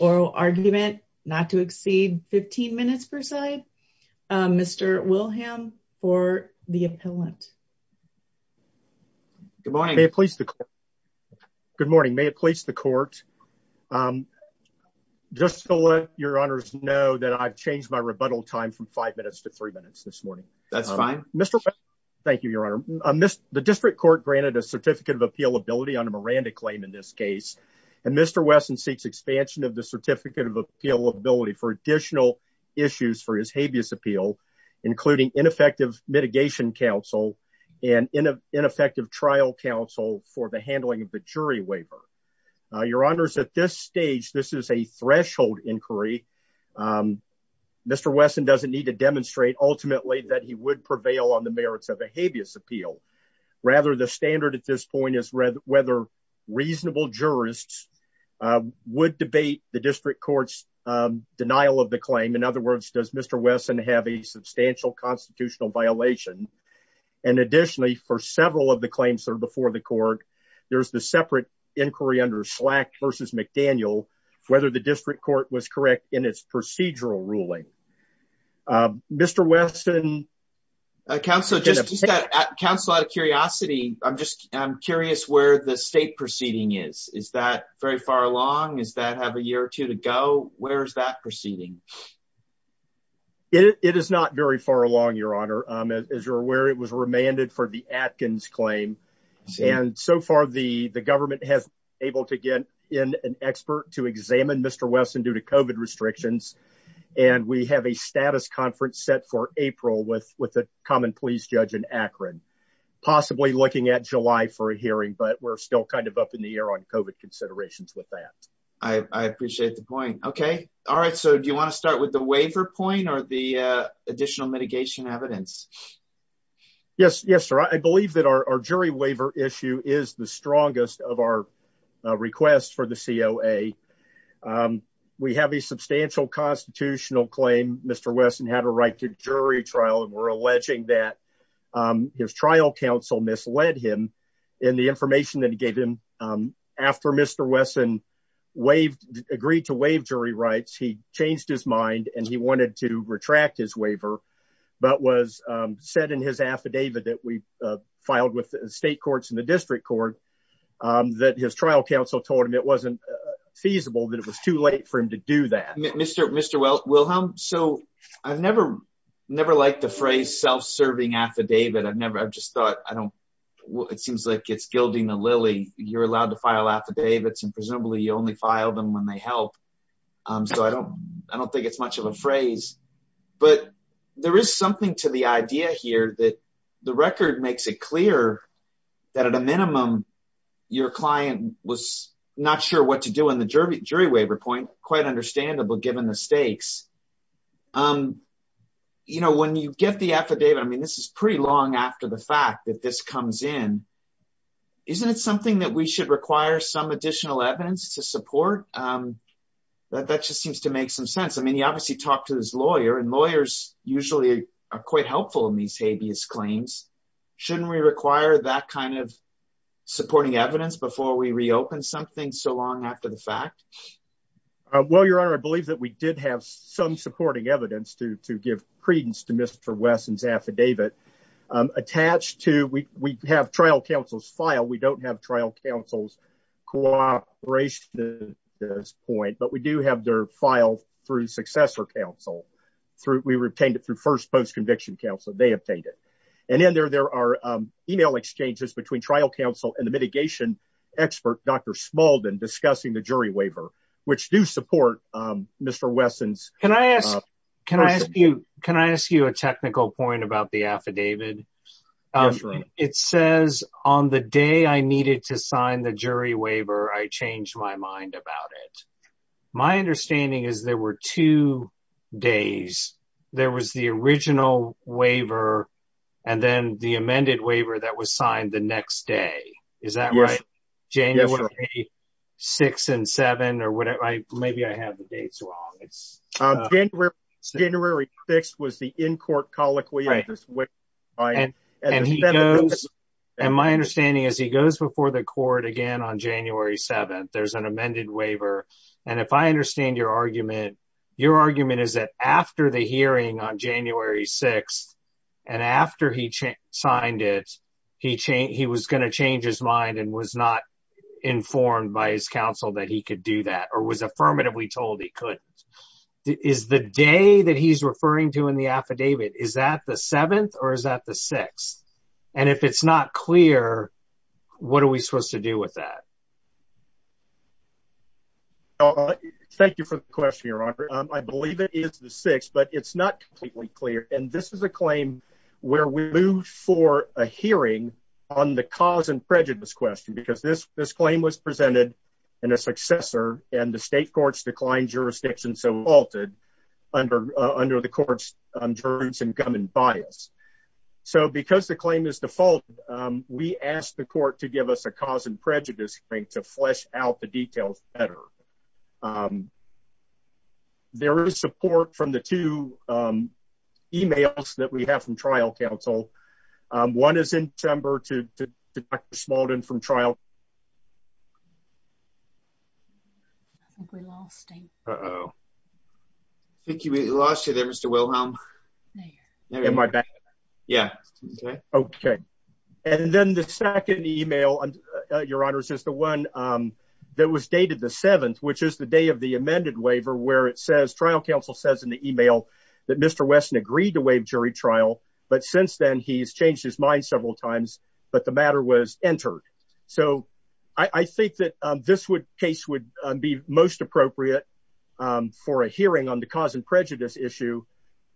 oral argument not to exceed 15 minutes per side. Mr. Wilhelm for the appellant. Good morning. May it please the court. Good morning. May it please the court. Just to let your honors know that I've changed my rebuttal time from five minutes to three minutes this morning. That's fine. Mr. Thank you, your honor. I missed the district court granted a certificate of appeal ability on a Miranda claim in this case, and Mr Wesson seeks expansion of the certificate of appeal ability for additional issues for his habeas appeal, including ineffective mitigation counsel and ineffective trial counsel for the handling of the jury waiver. Your honors at this stage. This is a threshold inquiry. Mr. Wesson doesn't need to demonstrate ultimately that he would prevail on the merits of a habeas appeal. Rather, the standard at this point is whether whether reasonable jurists would debate the district court's denial of the claim. In other words, does Mr. Wesson have a substantial constitutional violation? And additionally, for several of the claims that are before the court, there's the separate inquiry under slack versus McDaniel whether the district court was correct in its procedural ruling. Mr. Wesson. Council just Council out of curiosity. I'm just curious where the state proceeding is. Is that very far along? Is that have a year or two to go? Where's that proceeding? It is not very far along, Your Honor, as you're aware, it was remanded for the Atkins claim. And so far, the the government has able to get in an expert to examine Mr. Wesson due to COVID restrictions. And we have a status conference set for April with with a common police judge in Akron, possibly looking at July for a hearing, but we're still kind of up in the air on COVID considerations with that. I appreciate the point. Okay. All right. So do you want to start with the waiver point or the additional mitigation evidence? Yes, yes, sir. I believe that our jury waiver issue is the strongest of our request for the COA. We have a substantial constitutional claim. Mr. Wesson had a right to jury trial and we're alleging that his trial counsel misled him in the information that he gave him after Mr. Wesson waived agreed to waive jury rights. He changed his mind and he wanted to retract his waiver, but was said in his affidavit that we filed with state courts in the district court that his trial counsel told him it wasn't feasible that it was too late for him to do that. Mr. Wilhelm, so I've never, never liked the phrase self-serving affidavit. I've never, I've just thought, I don't, it seems like it's gilding the lily. You're allowed to file affidavits and presumably you only file them when they help. So I don't, I don't think it's much of a phrase, but there is something to the idea here that the record makes it clear that at a minimum, your client was not sure what to do in the jury jury waiver point, quite understandable, given the stakes. Um, you know, when you get the affidavit, I mean, this is pretty long after the fact that this comes in, isn't it something that we should require some additional evidence to support? Um, that, that just seems to make some sense. I mean, he obviously talked to his lawyer and lawyers usually are quite helpful in these habeas claims. Shouldn't we require that kind of supporting evidence before we reopen something so long after the fact? Uh, well, your honor, I believe that we did have some supporting evidence to, to give credence to Mr. Wesson's affidavit, um, attached to, we, we have trial counsel's file. We don't have trial counsel's cooperation at this point, but we do have their file through successor counsel through, we retained it through first post conviction counsel. They obtained it. And then there, there are, um, email exchanges between trial counsel and the mitigation expert, Dr. Smalden discussing the jury waiver, which do support, um, Mr. Wesson's. Can I ask you, can I ask you a technical point about the affidavit? It says on the day I needed to sign the jury waiver. I changed my mind about it. My understanding is there were two days. There was the original waiver. And then the amended waiver that was signed the next day. Is that right? Six and seven or whatever. I, maybe I have the dates wrong. It's January 6th was the in-court colloquy. And my understanding is he goes before the court again on January 7th, there's an amended waiver. And if I understand your argument, your argument is that after the hearing on January 6th. And after he signed it, he changed, he was going to change his mind and was not informed by his counsel that he could do that or was affirmatively told he couldn't. Is the day that he's referring to in the affidavit, is that the seventh or is that the sixth? And if it's not clear, what are we supposed to do with that? Thank you for the question, Your Honor. I believe it is the sixth, but it's not completely clear. And this is a claim where we move for a hearing on the cause and prejudice question, because this claim was presented in a successor and the state courts declined jurisdiction. So it wasn't defaulted under the court's juris and gum and bias. So because the claim is default, we asked the court to give us a cause and prejudice thing to flesh out the details better. There is support from the two emails that we have from trial counsel. One is in December to Dr. Smaldon from trial. I think we lost you there, Mr. Wilhelm. Am I back? Yeah. Okay. And then the second email, Your Honor, is just the one that was dated the seventh, which is the day of the amended waiver, where it says trial counsel says in the email that Mr. Wilson has changed his mind several times, but the matter was entered. So I think that this would case would be most appropriate for a hearing on the cause and prejudice issue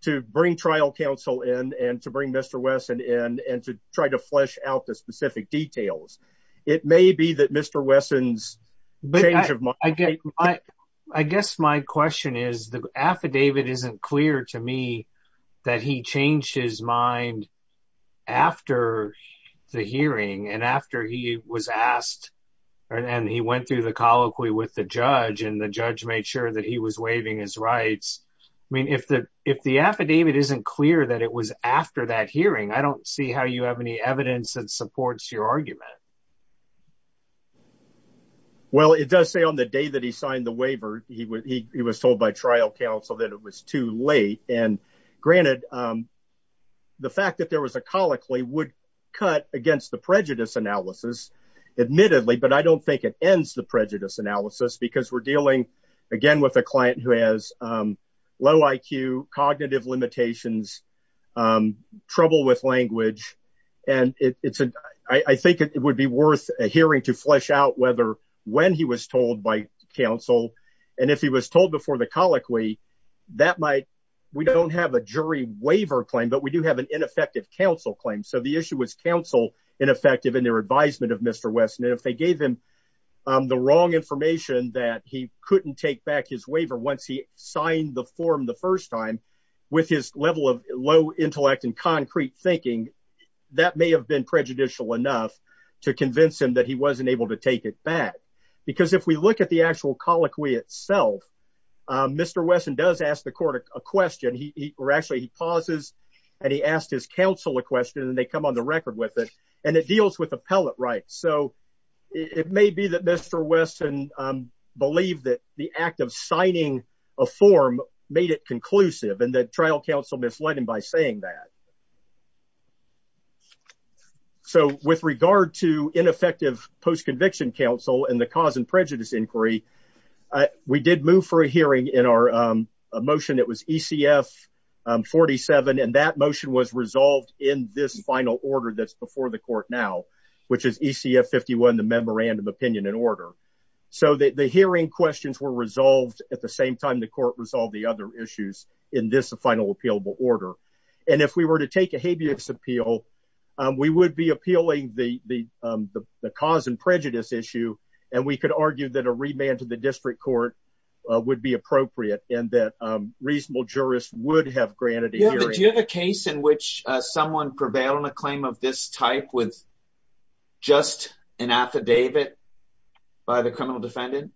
to bring trial counsel in and to bring Mr. Wesson in and to try to flesh out the specific details. It may be that Mr. Wesson's change of mind. I guess my question is the affidavit isn't clear to me that he changed his mind after the hearing and after he was asked and he went through the colloquy with the judge and the judge made sure that he was waiving his rights. I mean, if the affidavit isn't clear that it was after that hearing, I don't see how you have any evidence that supports your argument. Well, it does say on the day that he signed the waiver, he was told by trial counsel that it was too late. And granted, the fact that there was a colloquy would cut against the prejudice analysis, admittedly. But I don't think it ends the prejudice analysis because we're dealing again with a client who has low IQ, cognitive limitations, trouble with language. And it's I think it would be worth a hearing to flesh out whether when he was told by counsel. And if he was told before the colloquy, that might we don't have a jury waiver claim, but we do have an ineffective counsel claim. So the issue was counsel ineffective in their advisement of Mr. Wesson. And if they gave him the wrong information that he couldn't take back his waiver once he signed the form the first time with his level of low intellect and concrete thinking, that may have been prejudicial enough to convince him that he wasn't able to take it back. Because if we look at the actual colloquy itself, Mr. Wesson does ask the court a question. He actually pauses and he asked his counsel a question and they come on the record with it. And it deals with appellate rights. So it may be that Mr. Wesson believe that the act of signing a form made it conclusive and that trial counsel misled him by saying that. So with regard to ineffective post-conviction counsel and the cause and prejudice inquiry, we did move for a hearing in our motion that was ECF 47. And that motion was resolved in this final order that's before the court now, which is ECF 51, the memorandum opinion in order. So the hearing questions were resolved at the same time the court resolved the other issues in this final appealable order. And if we were to take a habeas appeal, we would be appealing the cause and prejudice issue. And we could argue that a remand to the district court would be appropriate and that reasonable jurists would have granted a hearing. Do you have a case in which someone prevailed on a claim of this type with just an affidavit by the criminal defendant?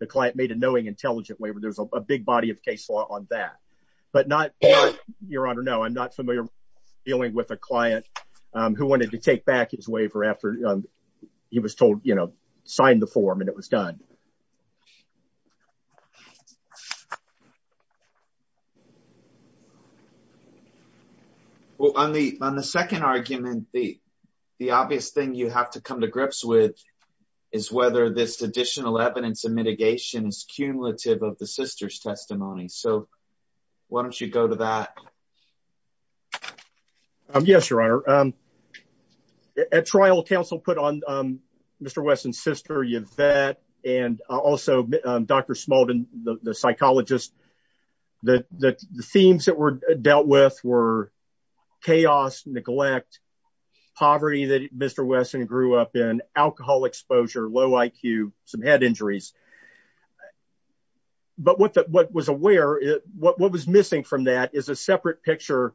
The client made a knowing, intelligent waiver. There's a big body of case law on that, but not your honor. No, I'm not familiar dealing with a client who wanted to take back his waiver after he was told, you know, sign the form and it was done. Well, on the, on the second argument, the, the obvious thing you have to come to grips with is whether this additional evidence and mitigation is cumulative of the sister's testimony. So why don't you go to that? Um, yes, your honor. Um, at trial council put on, um, Mr. Wesson's sister, Yvette, and also, um, Dr. Smallton, the psychologist, the, the themes that were dealt with were chaos, neglect, poverty that Mr. Wesson grew up in, alcohol exposure, low IQ, some head injuries. But what the, what was aware, what was missing from that is a separate picture,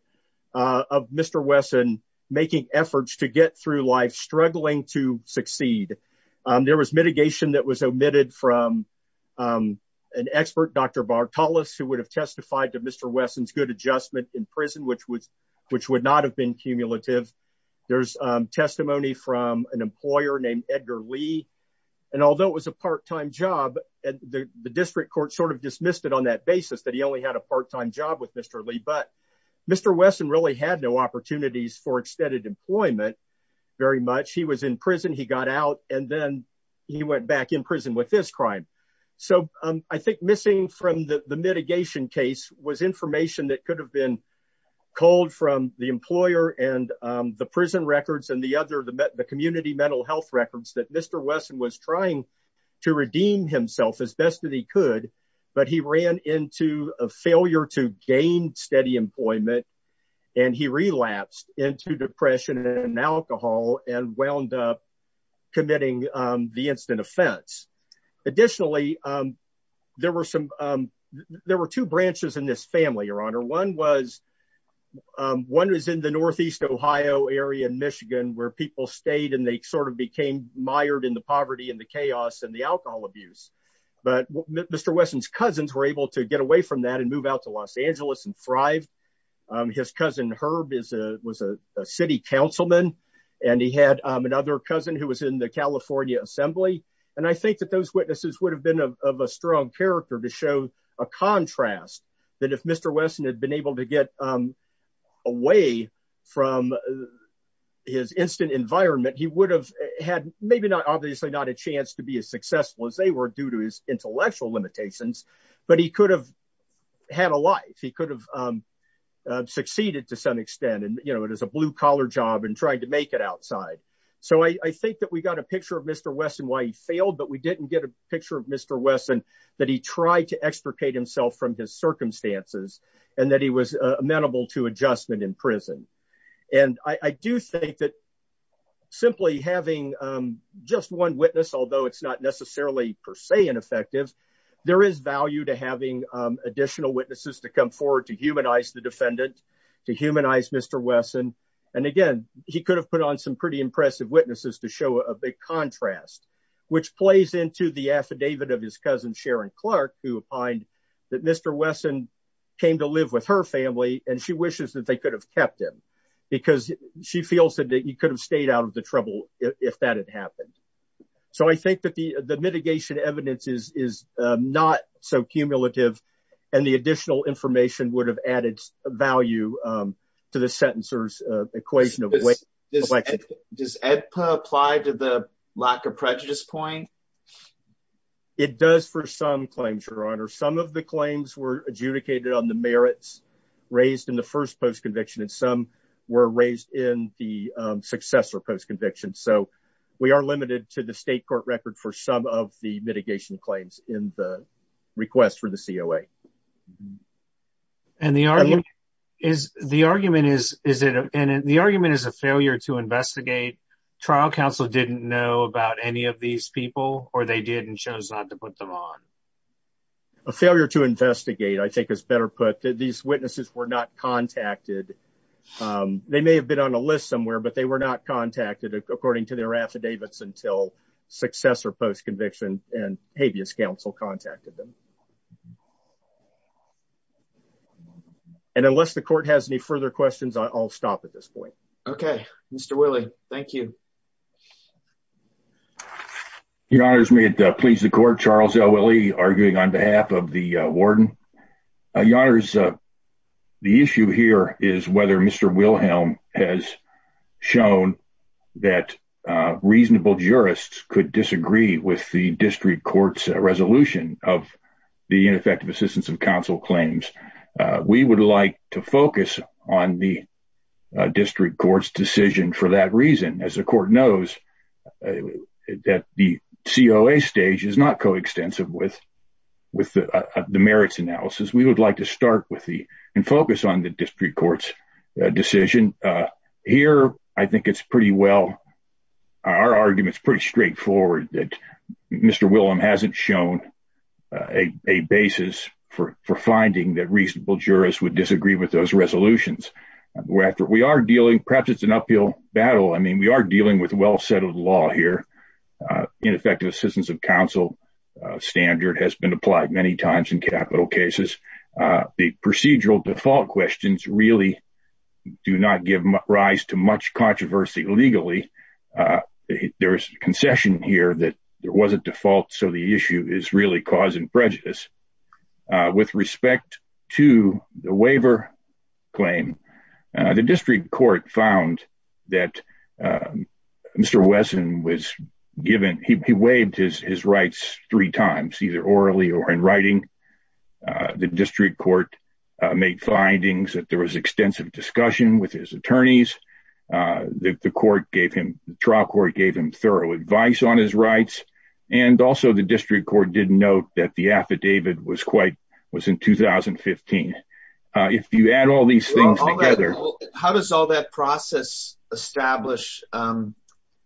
uh, of Mr. Wesson making efforts to get through life, struggling to succeed. Um, there was mitigation that was omitted from, um, an expert, Dr. Bartolos, who would have testified to Mr. Wesson's good adjustment in prison, which would, which would not have been cumulative. There's, um, testimony from an employer named Edgar Lee. And although it was a part-time job and the district court sort of dismissed it on that basis that he only had a part-time job with Mr. Lee, but Mr. Wesson really had no opportunities for extended employment very much. He was in prison, he got out, and then he went back in prison with this crime. So, um, I think missing from the mitigation case was information that could have been culled from the employer and, um, the prison records and the other, the community mental health records that Mr. Wesson was trying to redeem himself as best as he could, but he ran into a failure to gain steady employment and he relapsed into depression and alcohol and wound up committing, um, the instant offense. Additionally, um, there were some, um, there were two branches in this family, Your Honor. One was, um, one was in the Northeast Ohio area in Michigan where people stayed and they sort of became mired in the poverty and the chaos and the alcohol abuse. But Mr. Wesson's cousins were able to get away from that and move out to Los Angeles and thrive. Um, his cousin Herb is a, was a city councilman and he had, um, another cousin who was in the California assembly. And I think that those witnesses would have been of a strong character to show a contrast that if Mr. Wesson had been able to get, um, away from his instant environment, he would have had maybe not, obviously not a chance to be as successful as they were due to his intellectual limitations, but he could have had a life. He could have, um, uh, succeeded to some extent and, you know, it is a blue collar job and trying to make it outside. So I think that we got a picture of Mr. Wesson why he failed, but we didn't get a picture of Mr. Wesson that he tried to extricate himself from his circumstances and that he was amenable to adjustment in prison. And I do think that simply having, um, just one witness, although it's not necessarily per se ineffective, there is value to having, um, additional witnesses to come forward, to humanize the defendant, to humanize Mr. Wesson. And again, he could have put on some pretty impressive witnesses to show a big contrast, which plays into the affidavit of his cousin, Sharon Clark, who opined that Mr. Wesson came to live with her family and she wishes that they could have kept him because she feels that he could have stayed out of the trouble if that had happened. Um, so I think that the, the mitigation evidence is, is, um, not so cumulative and the additional information would have added value, um, to the sentencers, uh, equation of weight. Does EDPA apply to the lack of prejudice point? It does for some claims, your honor. Some of the claims were adjudicated on the merits raised in the first post conviction and some were raised in the successor post conviction. So we are limited to the state court record for some of the mitigation claims in the request for the COA. And the argument is, the argument is, is it, and the argument is a failure to investigate. Trial counsel didn't know about any of these people or they did and chose not to put them on. A failure to investigate, I think is better put that these witnesses were not contacted. Um, they may have been on a list somewhere, but they were not contacted according to their affidavits until successor post conviction and habeas counsel contacted them. And unless the court has any further questions, I'll stop at this point. Okay. Willie. Thank you. Your honors, may it please the court. Charles are arguing on behalf of the warden. Your honors. The issue here is whether Mr. Wilhelm has shown that reasonable jurists could disagree with the district courts resolution of the ineffective assistance of counsel claims. We would like to focus on the district courts decision for that reason. As the court knows that the COA stage is not co extensive with, with the merits analysis, we would like to start with the focus on the district courts decision here. I think it's pretty well. Our argument is pretty straightforward that Mr. Wilhelm hasn't shown a basis for finding that reasonable jurors would disagree with those resolutions. We are dealing perhaps it's an uphill battle. I mean, we are dealing with well settled law here. Ineffective assistance of counsel standard has been applied many times in capital cases. The procedural default questions really do not give rise to much controversy legally. There is concession here that there was a default. So the issue is really causing prejudice. With respect to the waiver claim, the district court found that Mr. Wesson was given he waived his rights three times either orally or in writing. The district court made findings that there was extensive discussion with his attorneys. The court gave him the trial court gave him thorough advice on his rights. And also the district court did note that the affidavit was quite was in 2015. If you add all these things together. How does all that process establish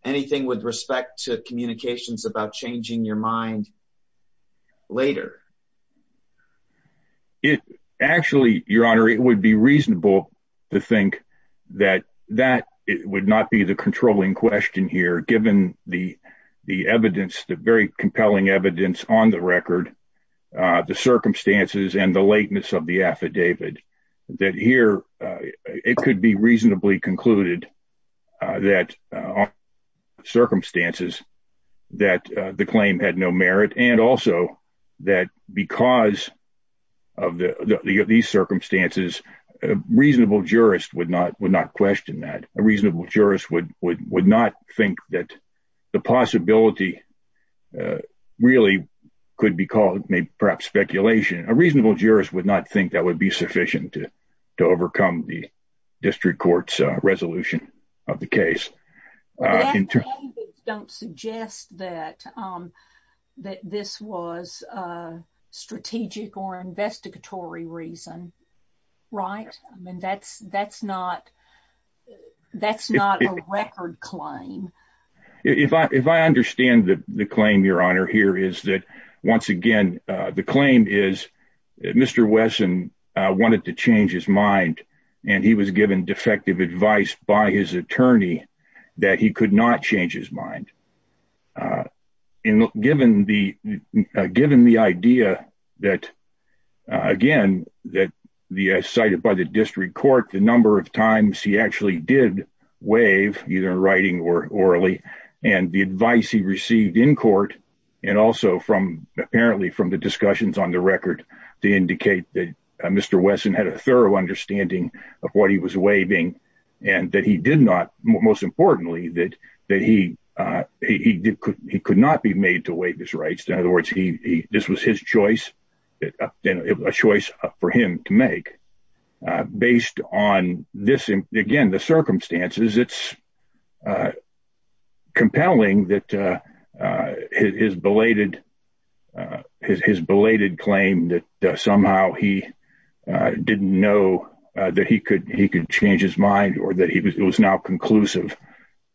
anything with respect to communications about changing your mind later? It actually, Your Honor, it would be reasonable to think that that would not be the controlling question here. Given the the evidence, the very compelling evidence on the record, the circumstances and the lateness of the affidavit that here it could be reasonably concluded that circumstances that the claim had no merit. And also that because of these circumstances, a reasonable jurist would not would not question that a reasonable jurist would would would not think that the possibility really could be called perhaps speculation. A reasonable jurist would not think that would be sufficient to to overcome the district court's resolution of the case. Don't suggest that that this was a strategic or investigatory reason. Right. I mean, that's that's not that's not a record claim. If I if I understand the claim, Your Honor, here is that once again, the claim is that Mr. Wesson wanted to change his mind and he was given defective advice by his attorney that he could not change his mind. And given the given the idea that, again, that the cited by the district court, the number of times he actually did waive either writing or orally and the advice he received in court and also from apparently from the discussions on the record to indicate that Mr. Wesson had a thorough understanding of what he was waiving and that he did not. Most importantly, that that he he could he could not be made to waive his rights. In other words, he this was his choice, a choice for him to make based on this. Again, the circumstances, it's compelling that his belated his belated claim that somehow he didn't know that he could he could change his mind or that it was now conclusive.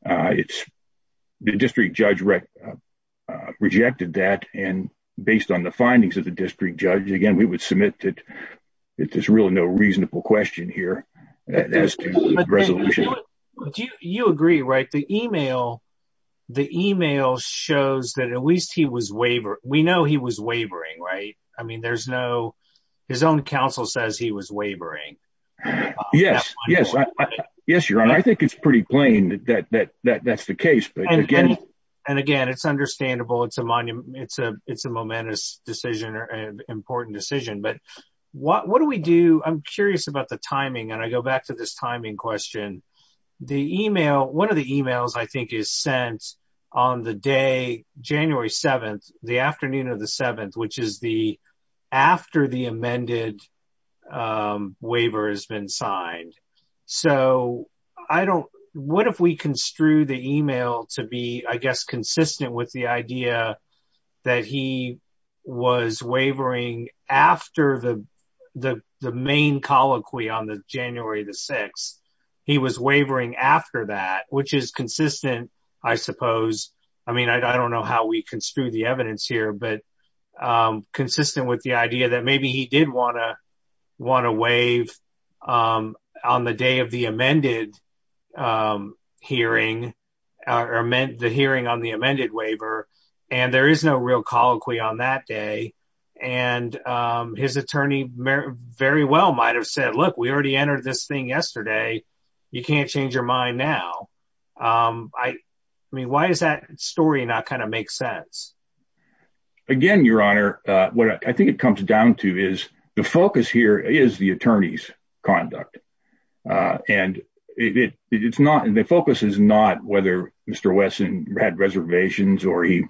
It's the district judge rejected that. And based on the findings of the district judge, again, we would submit that there's really no reasonable question here as to resolution. Do you agree? Right. The email the email shows that at least he was waiver. We know he was wavering. Right. I mean, there's no his own counsel says he was wavering. Yes, yes. Yes, your honor. I think it's pretty plain that that that that's the case. But again, and again, it's understandable. It's a monument. It's a it's a momentous decision or an important decision. But what what do we do? I'm curious about the timing. And I go back to this timing question. The email. One of the emails I think is sent on the day, January 7th, the afternoon of the 7th, which is the after the amended waiver has been signed. So I don't what if we construe the email to be, I guess, consistent with the idea that he was wavering after the the the main colloquy on the January the 6th. After that, which is consistent, I suppose. I mean, I don't know how we construe the evidence here, but consistent with the idea that maybe he did want to want to waive on the day of the amended hearing or meant the hearing on the amended waiver. And there is no real colloquy on that day. And his attorney very well might have said, look, we already entered this thing yesterday. You can't change your mind now. I mean, why is that story not kind of makes sense. Again, Your Honor, what I think it comes down to is the focus here is the attorney's conduct. And it's not the focus is not whether Mr. Wesson had reservations or he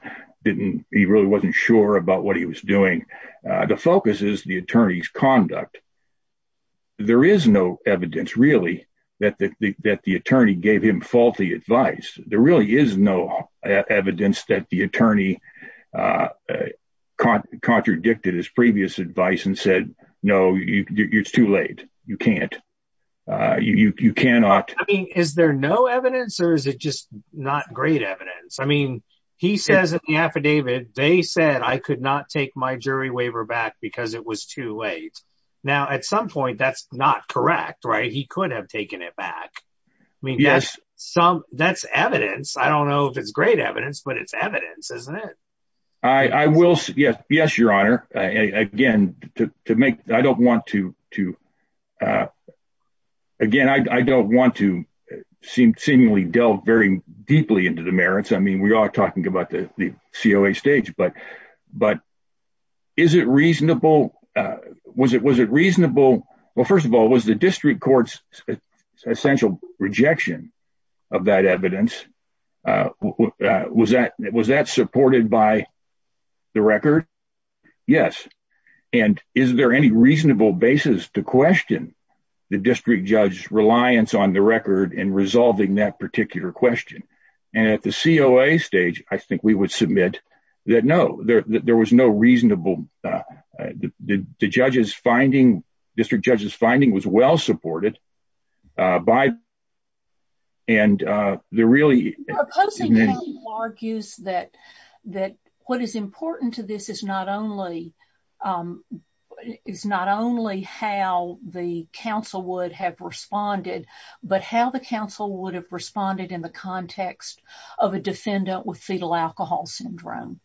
didn't he really wasn't sure about what he was doing. The focus is the attorney's conduct. There is no evidence, really, that the that the attorney gave him faulty advice. There really is no evidence that the attorney contradicted his previous advice and said, no, it's too late. You can't. You cannot Is there no evidence or is it just not great evidence. I mean, he says in the affidavit, they said I could not take my jury waiver back because it was too late. Now, at some point, that's not correct. Right. He could have taken it back. I mean, yes, some that's evidence. I don't know if it's great evidence, but it's evidence, isn't it. Yes. Yes, Your Honor. Again, to make I don't want to to. Again, I don't want to seem seemingly delve very deeply into the merits. I mean, we are talking about the COA stage, but but is it reasonable. Was it was it reasonable. Well, first of all, was the district courts essential rejection of that evidence. Was that was that supported by the record. Yes. And is there any reasonable basis to question the district judge's reliance on the record and resolving that particular question. And at the COA stage, I think we would submit that. No, there was no reasonable Judges finding district judges finding was well supported by And they're really argues that that what is important to this is not only Is not only how the council would have responded, but how the council would have responded in the context of a defendant with fetal alcohol syndrome.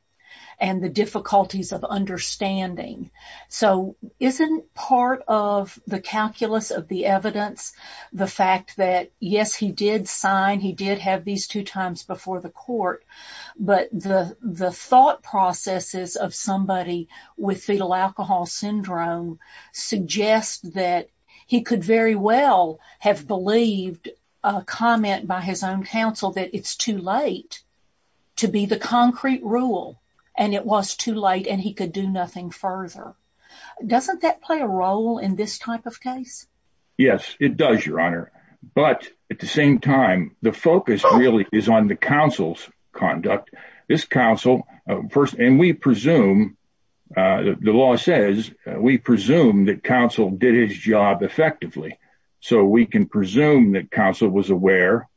And the difficulties of understanding. So isn't part of the calculus of the evidence. The fact that, yes, he did sign. He did have these two times before the court. But the, the thought processes of somebody with fetal alcohol syndrome suggest that he could very well have believed a comment by his own counsel that it's too late. To be the concrete rule and it was too late and he could do nothing further. Doesn't that play a role in this type of case. Yes, it does, Your Honor. But at the same time, the focus really is on the council's conduct this council first and we presume The law says we presume that counsel did his job effectively. So we can presume that counsel was aware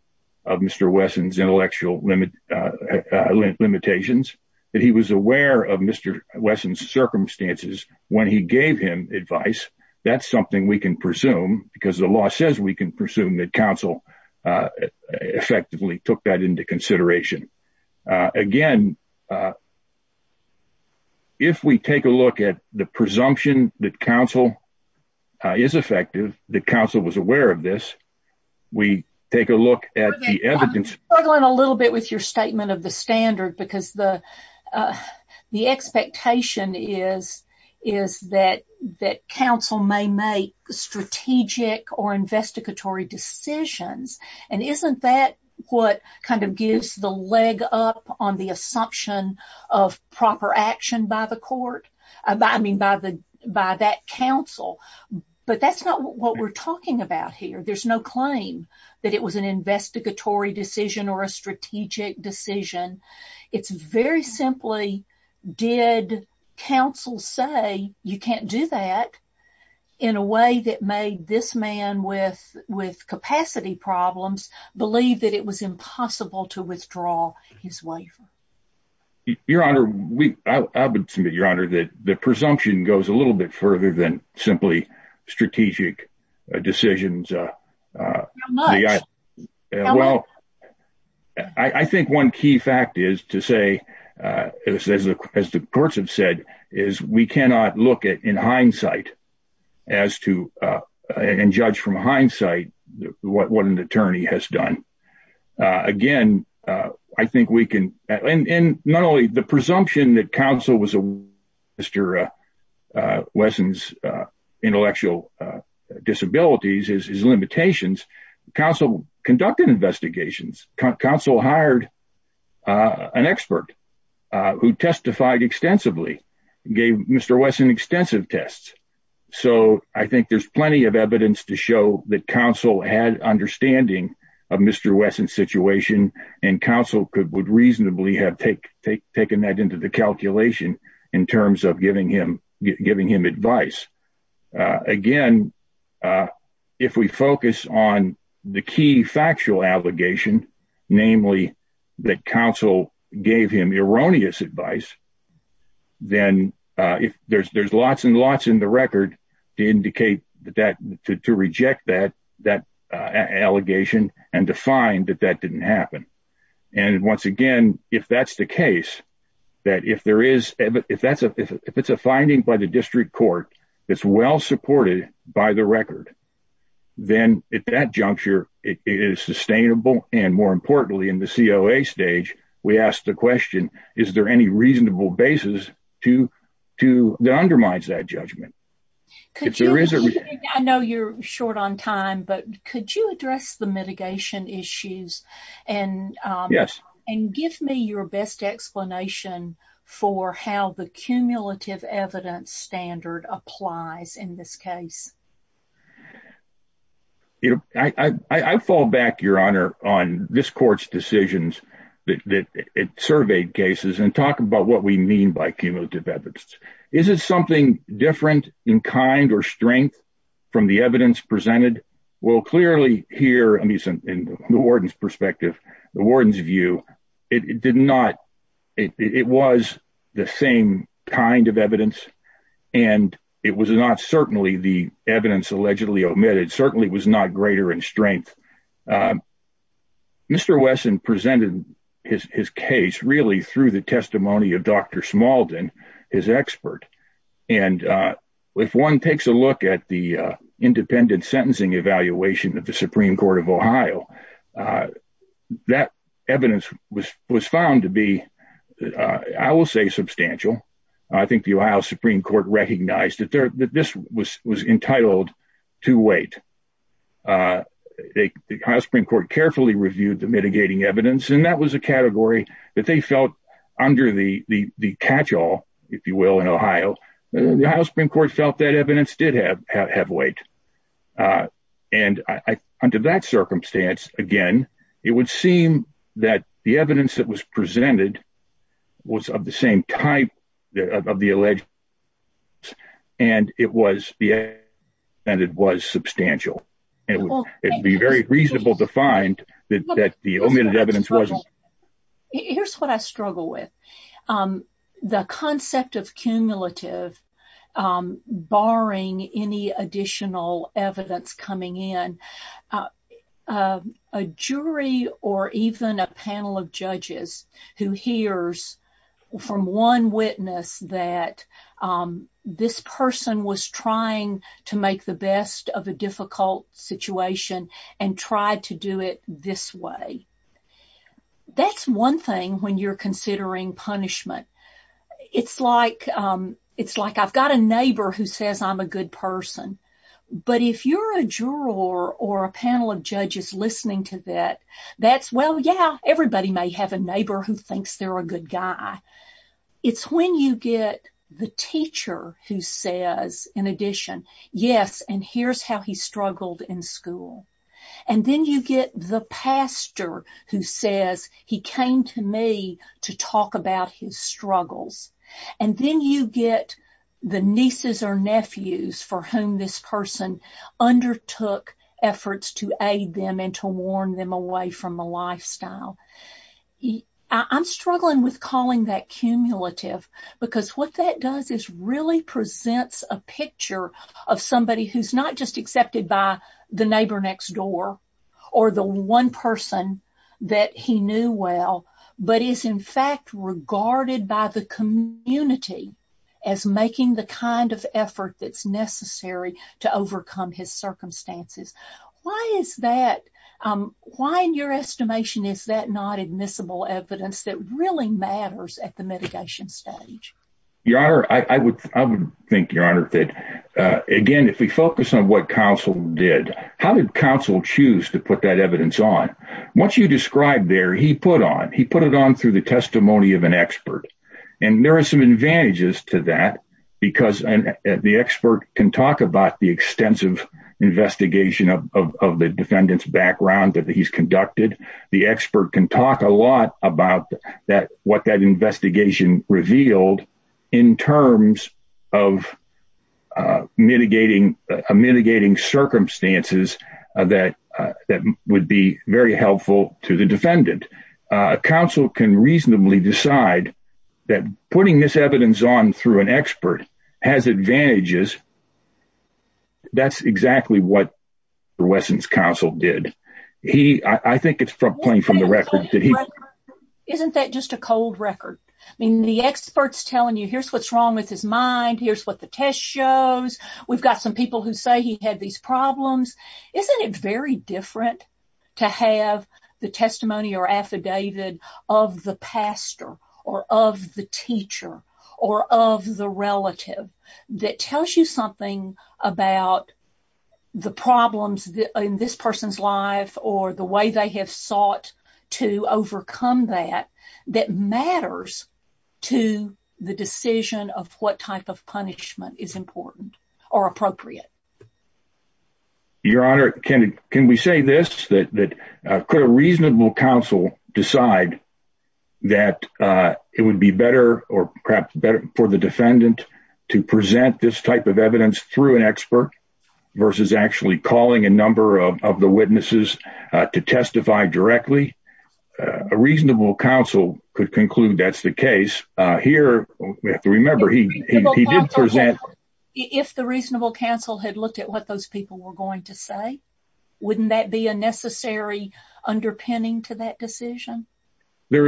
of Mr. Wesson's intellectual limit Limitations that he was aware of Mr. Wesson circumstances when he gave him advice. That's something we can presume because the law says we can presume that counsel effectively took that into consideration again. If we take a look at the presumption that counsel is effective the council was aware of this, we take a look at the evidence. A little bit with your statement of the standard because the The expectation is, is that that counsel may make strategic or investigatory decisions and isn't that what kind of gives the leg up on the assumption of proper action by the court. By that council, but that's not what we're talking about here. There's no claim that it was an investigatory decision or a strategic decision. It's very simply did counsel say you can't do that in a way that made this man with with capacity problems believe that it was impossible to withdraw his waiver. Your Honor, we submit, Your Honor, that the presumption goes a little bit further than simply strategic decisions. Well, I think one key fact is to say, as the courts have said is we cannot look at in hindsight, as to and judge from hindsight, what an attorney has done. Again, I think we can, and not only the presumption that counsel was a Mr. Wesson's intellectual disabilities, his limitations, counsel conducted investigations, counsel hired an expert who testified extensively gave Mr. Wesson extensive tests. So I think there's plenty of evidence to show that counsel had understanding of Mr. Wesson situation and counsel could would reasonably have take take taken that into the calculation in terms of giving him giving him advice. Again, if we focus on the key factual allegation, namely that counsel gave him erroneous advice. Then if there's there's lots and lots in the record to indicate that to reject that that allegation and to find that that didn't happen. And once again, if that's the case, that if there is, if that's if it's a finding by the district court, it's well supported by the record, then it that juncture is sustainable and more importantly in the COA stage, we asked the question, is there any reasonable basis to to the undermines that judgment. If there is, I know you're short on time, but could you address the mitigation issues and yes, and give me your best explanation for how the cumulative evidence standard applies in this case. You know, I fall back, Your Honor, on this court's decisions that it surveyed cases and talk about what we mean by cumulative evidence. Is it something different in kind or strength from the evidence presented. Well, clearly here in the warden's perspective, the warden's view, it did not. It was the same kind of evidence, and it was not certainly the evidence allegedly omitted certainly was not greater in strength. Mr. Wesson presented his case really through the testimony of Dr. Smalldon, his expert. And if one takes a look at the independent sentencing evaluation of the Supreme Court of Ohio, that evidence was was found to be, I will say, substantial. I think the Ohio Supreme Court recognized that this was entitled to weight. The Supreme Court carefully reviewed the mitigating evidence, and that was a category that they felt under the catchall, if you will, in Ohio. The Ohio Supreme Court felt that evidence did have weight. And under that circumstance, again, it would seem that the evidence that was presented was of the same type of the alleged and it was substantial. It would be very reasonable to find that the omitted evidence wasn't. Here's what I struggle with. The concept of cumulative, barring any additional evidence coming in, a jury or even a panel of judges who hears from one witness that this person was trying to make the best of a difficult situation and tried to do it this way. That's one thing when you're considering punishment. It's like I've got a neighbor who says I'm a good person. But if you're a juror or a panel of judges listening to that, that's, well, yeah, everybody may have a neighbor who thinks they're a good guy. It's when you get the teacher who says, in addition, yes, and here's how he struggled in school. And then you get the pastor who says he came to me to talk about his struggles. And then you get the nieces or nephews for whom this person undertook efforts to aid them and to warn them away from the lifestyle. I'm struggling with calling that cumulative because what that does is really presents a picture of somebody who's not just accepted by the neighbor next door or the one person that he knew well, but is in fact regarded by the community as making the kind of effort that's necessary to overcome his circumstances. Why is that? Why, in your estimation, is that not admissible evidence that really matters at the mitigation stage? Your Honor, I would think, Your Honor, that, again, if we focus on what counsel did, how did counsel choose to put that evidence on? Once you describe there, he put on, he put it on through the testimony of an expert. And there are some advantages to that because the expert can talk about the extensive investigation of the defendant's background that he's conducted. The expert can talk a lot about what that investigation revealed in terms of mitigating circumstances that would be very helpful to the defendant. Counsel can reasonably decide that putting this evidence on through an expert has advantages. That's exactly what Wesson's counsel did. He, I think it's plain from the record. Isn't that just a cold record? I mean, the expert's telling you, here's what's wrong with his mind. Here's what the test shows. We've got some people who say he had these problems. Isn't it very different to have the testimony or affidavit of the pastor or of the teacher or of the relative that tells you something about the problems in this person's life or the way they have sought to overcome their circumstances? How do you overcome that that matters to the decision of what type of punishment is important or appropriate? Your Honor, can we say this, that could a reasonable counsel decide that it would be better or perhaps better for the defendant to present this type of evidence through an expert versus actually calling a number of the witnesses to testify directly? A reasonable counsel could conclude that's the case. Here, we have to remember, he did present. If the reasonable counsel had looked at what those people were going to say, wouldn't that be a necessary underpinning to that decision? Here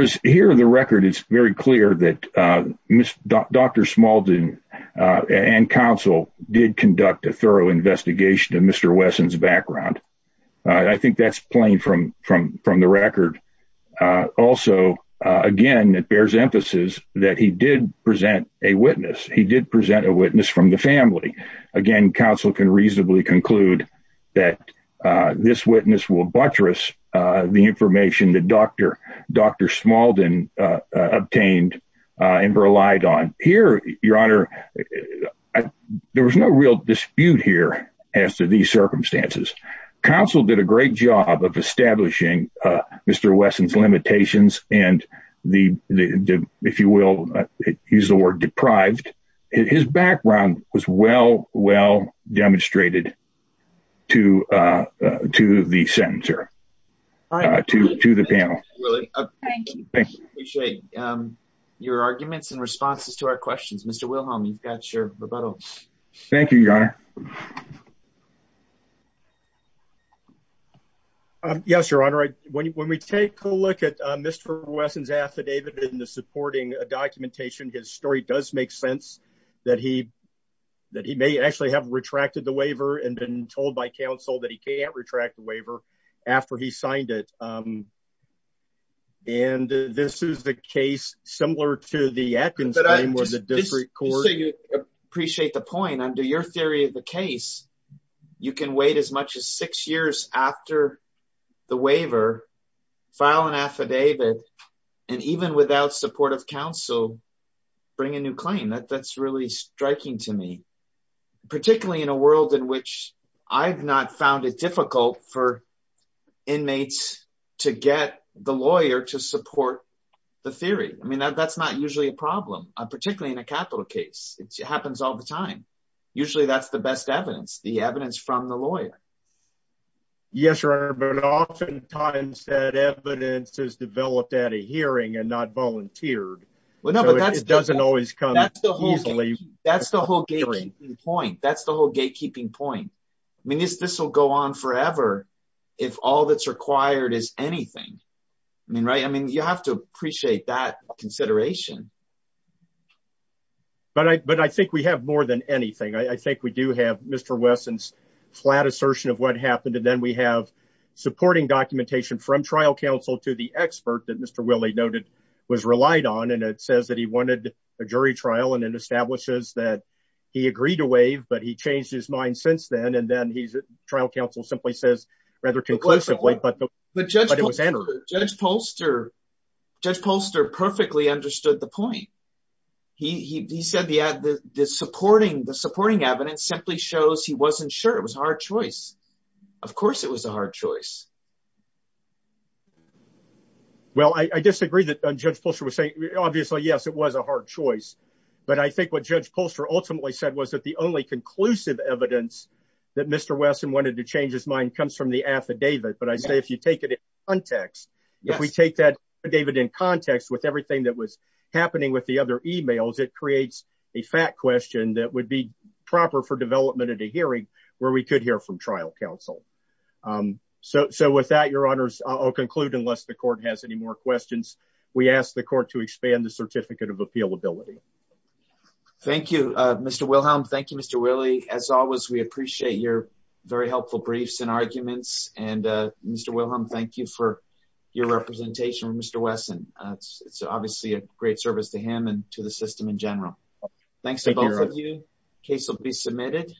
in the record, it's very clear that Dr. Smalden and counsel did conduct a thorough investigation of Mr. Wesson's background. I think that's plain from the record. Also, again, it bears emphasis that he did present a witness. He did present a witness from the family. Again, counsel can reasonably conclude that this witness will buttress the information that Dr. Smalden obtained and relied on. Here, Your Honor, there was no real dispute here as to these circumstances. Counsel did a great job of establishing Mr. Wesson's limitations and, if you will, use the word deprived. His background was well, well demonstrated to the panel. Thank you. I appreciate your arguments and responses to our questions. Mr. Wilhelm, you've got your rebuttal. Thank you, Your Honor. Yes, Your Honor. When we take a look at Mr. Wesson's affidavit in the supporting documentation, his story does make sense that he may actually have retracted the waiver and been told by counsel that he can't retract the waiver after he signed it. And this is the case, similar to the Atkins claim, where the district court— the lawyer to support the theory. I mean, that's not usually a problem, particularly in a capital case. It happens all the time. Usually that's the best evidence, the evidence from the lawyer. Yes, Your Honor, but oftentimes that evidence is developed at a hearing and not volunteered. Well, no, but that's— It doesn't always come easily. That's the whole gatekeeping point. That's the whole gatekeeping point. I mean, this will go on forever if all that's required is anything. I mean, right? I mean, you have to appreciate that consideration. But I think we have more than anything. I think we do have Mr. Wesson's flat assertion of what happened, and then we have supporting documentation from trial counsel to the expert that Mr. Willey noted was relied on. And it says that he wanted a jury trial, and it establishes that he agreed to waive, but he changed his mind since then. And then trial counsel simply says, rather conclusively, but it was entered. Judge Polster perfectly understood the point. He said the supporting evidence simply shows he wasn't sure. It was a hard choice. Of course it was a hard choice. Well, I disagree that Judge Polster was saying—obviously, yes, it was a hard choice. But I think what Judge Polster ultimately said was that the only conclusive evidence that Mr. Wesson wanted to change his mind comes from the affidavit. But I say if you take it in context, if we take that affidavit in context with everything that was happening with the other emails, it creates a fact question that would be proper for development at a hearing where we could hear from trial counsel. So with that, Your Honors, I'll conclude unless the Court has any more questions. We ask the Court to expand the Certificate of Appealability. Thank you, Mr. Wilhelm. Thank you, Mr. Willey. As always, we appreciate your very helpful briefs and arguments. And Mr. Wilhelm, thank you for your representation with Mr. Wesson. It's obviously a great service to him and to the system in general. Thanks to both of you. The case will be submitted.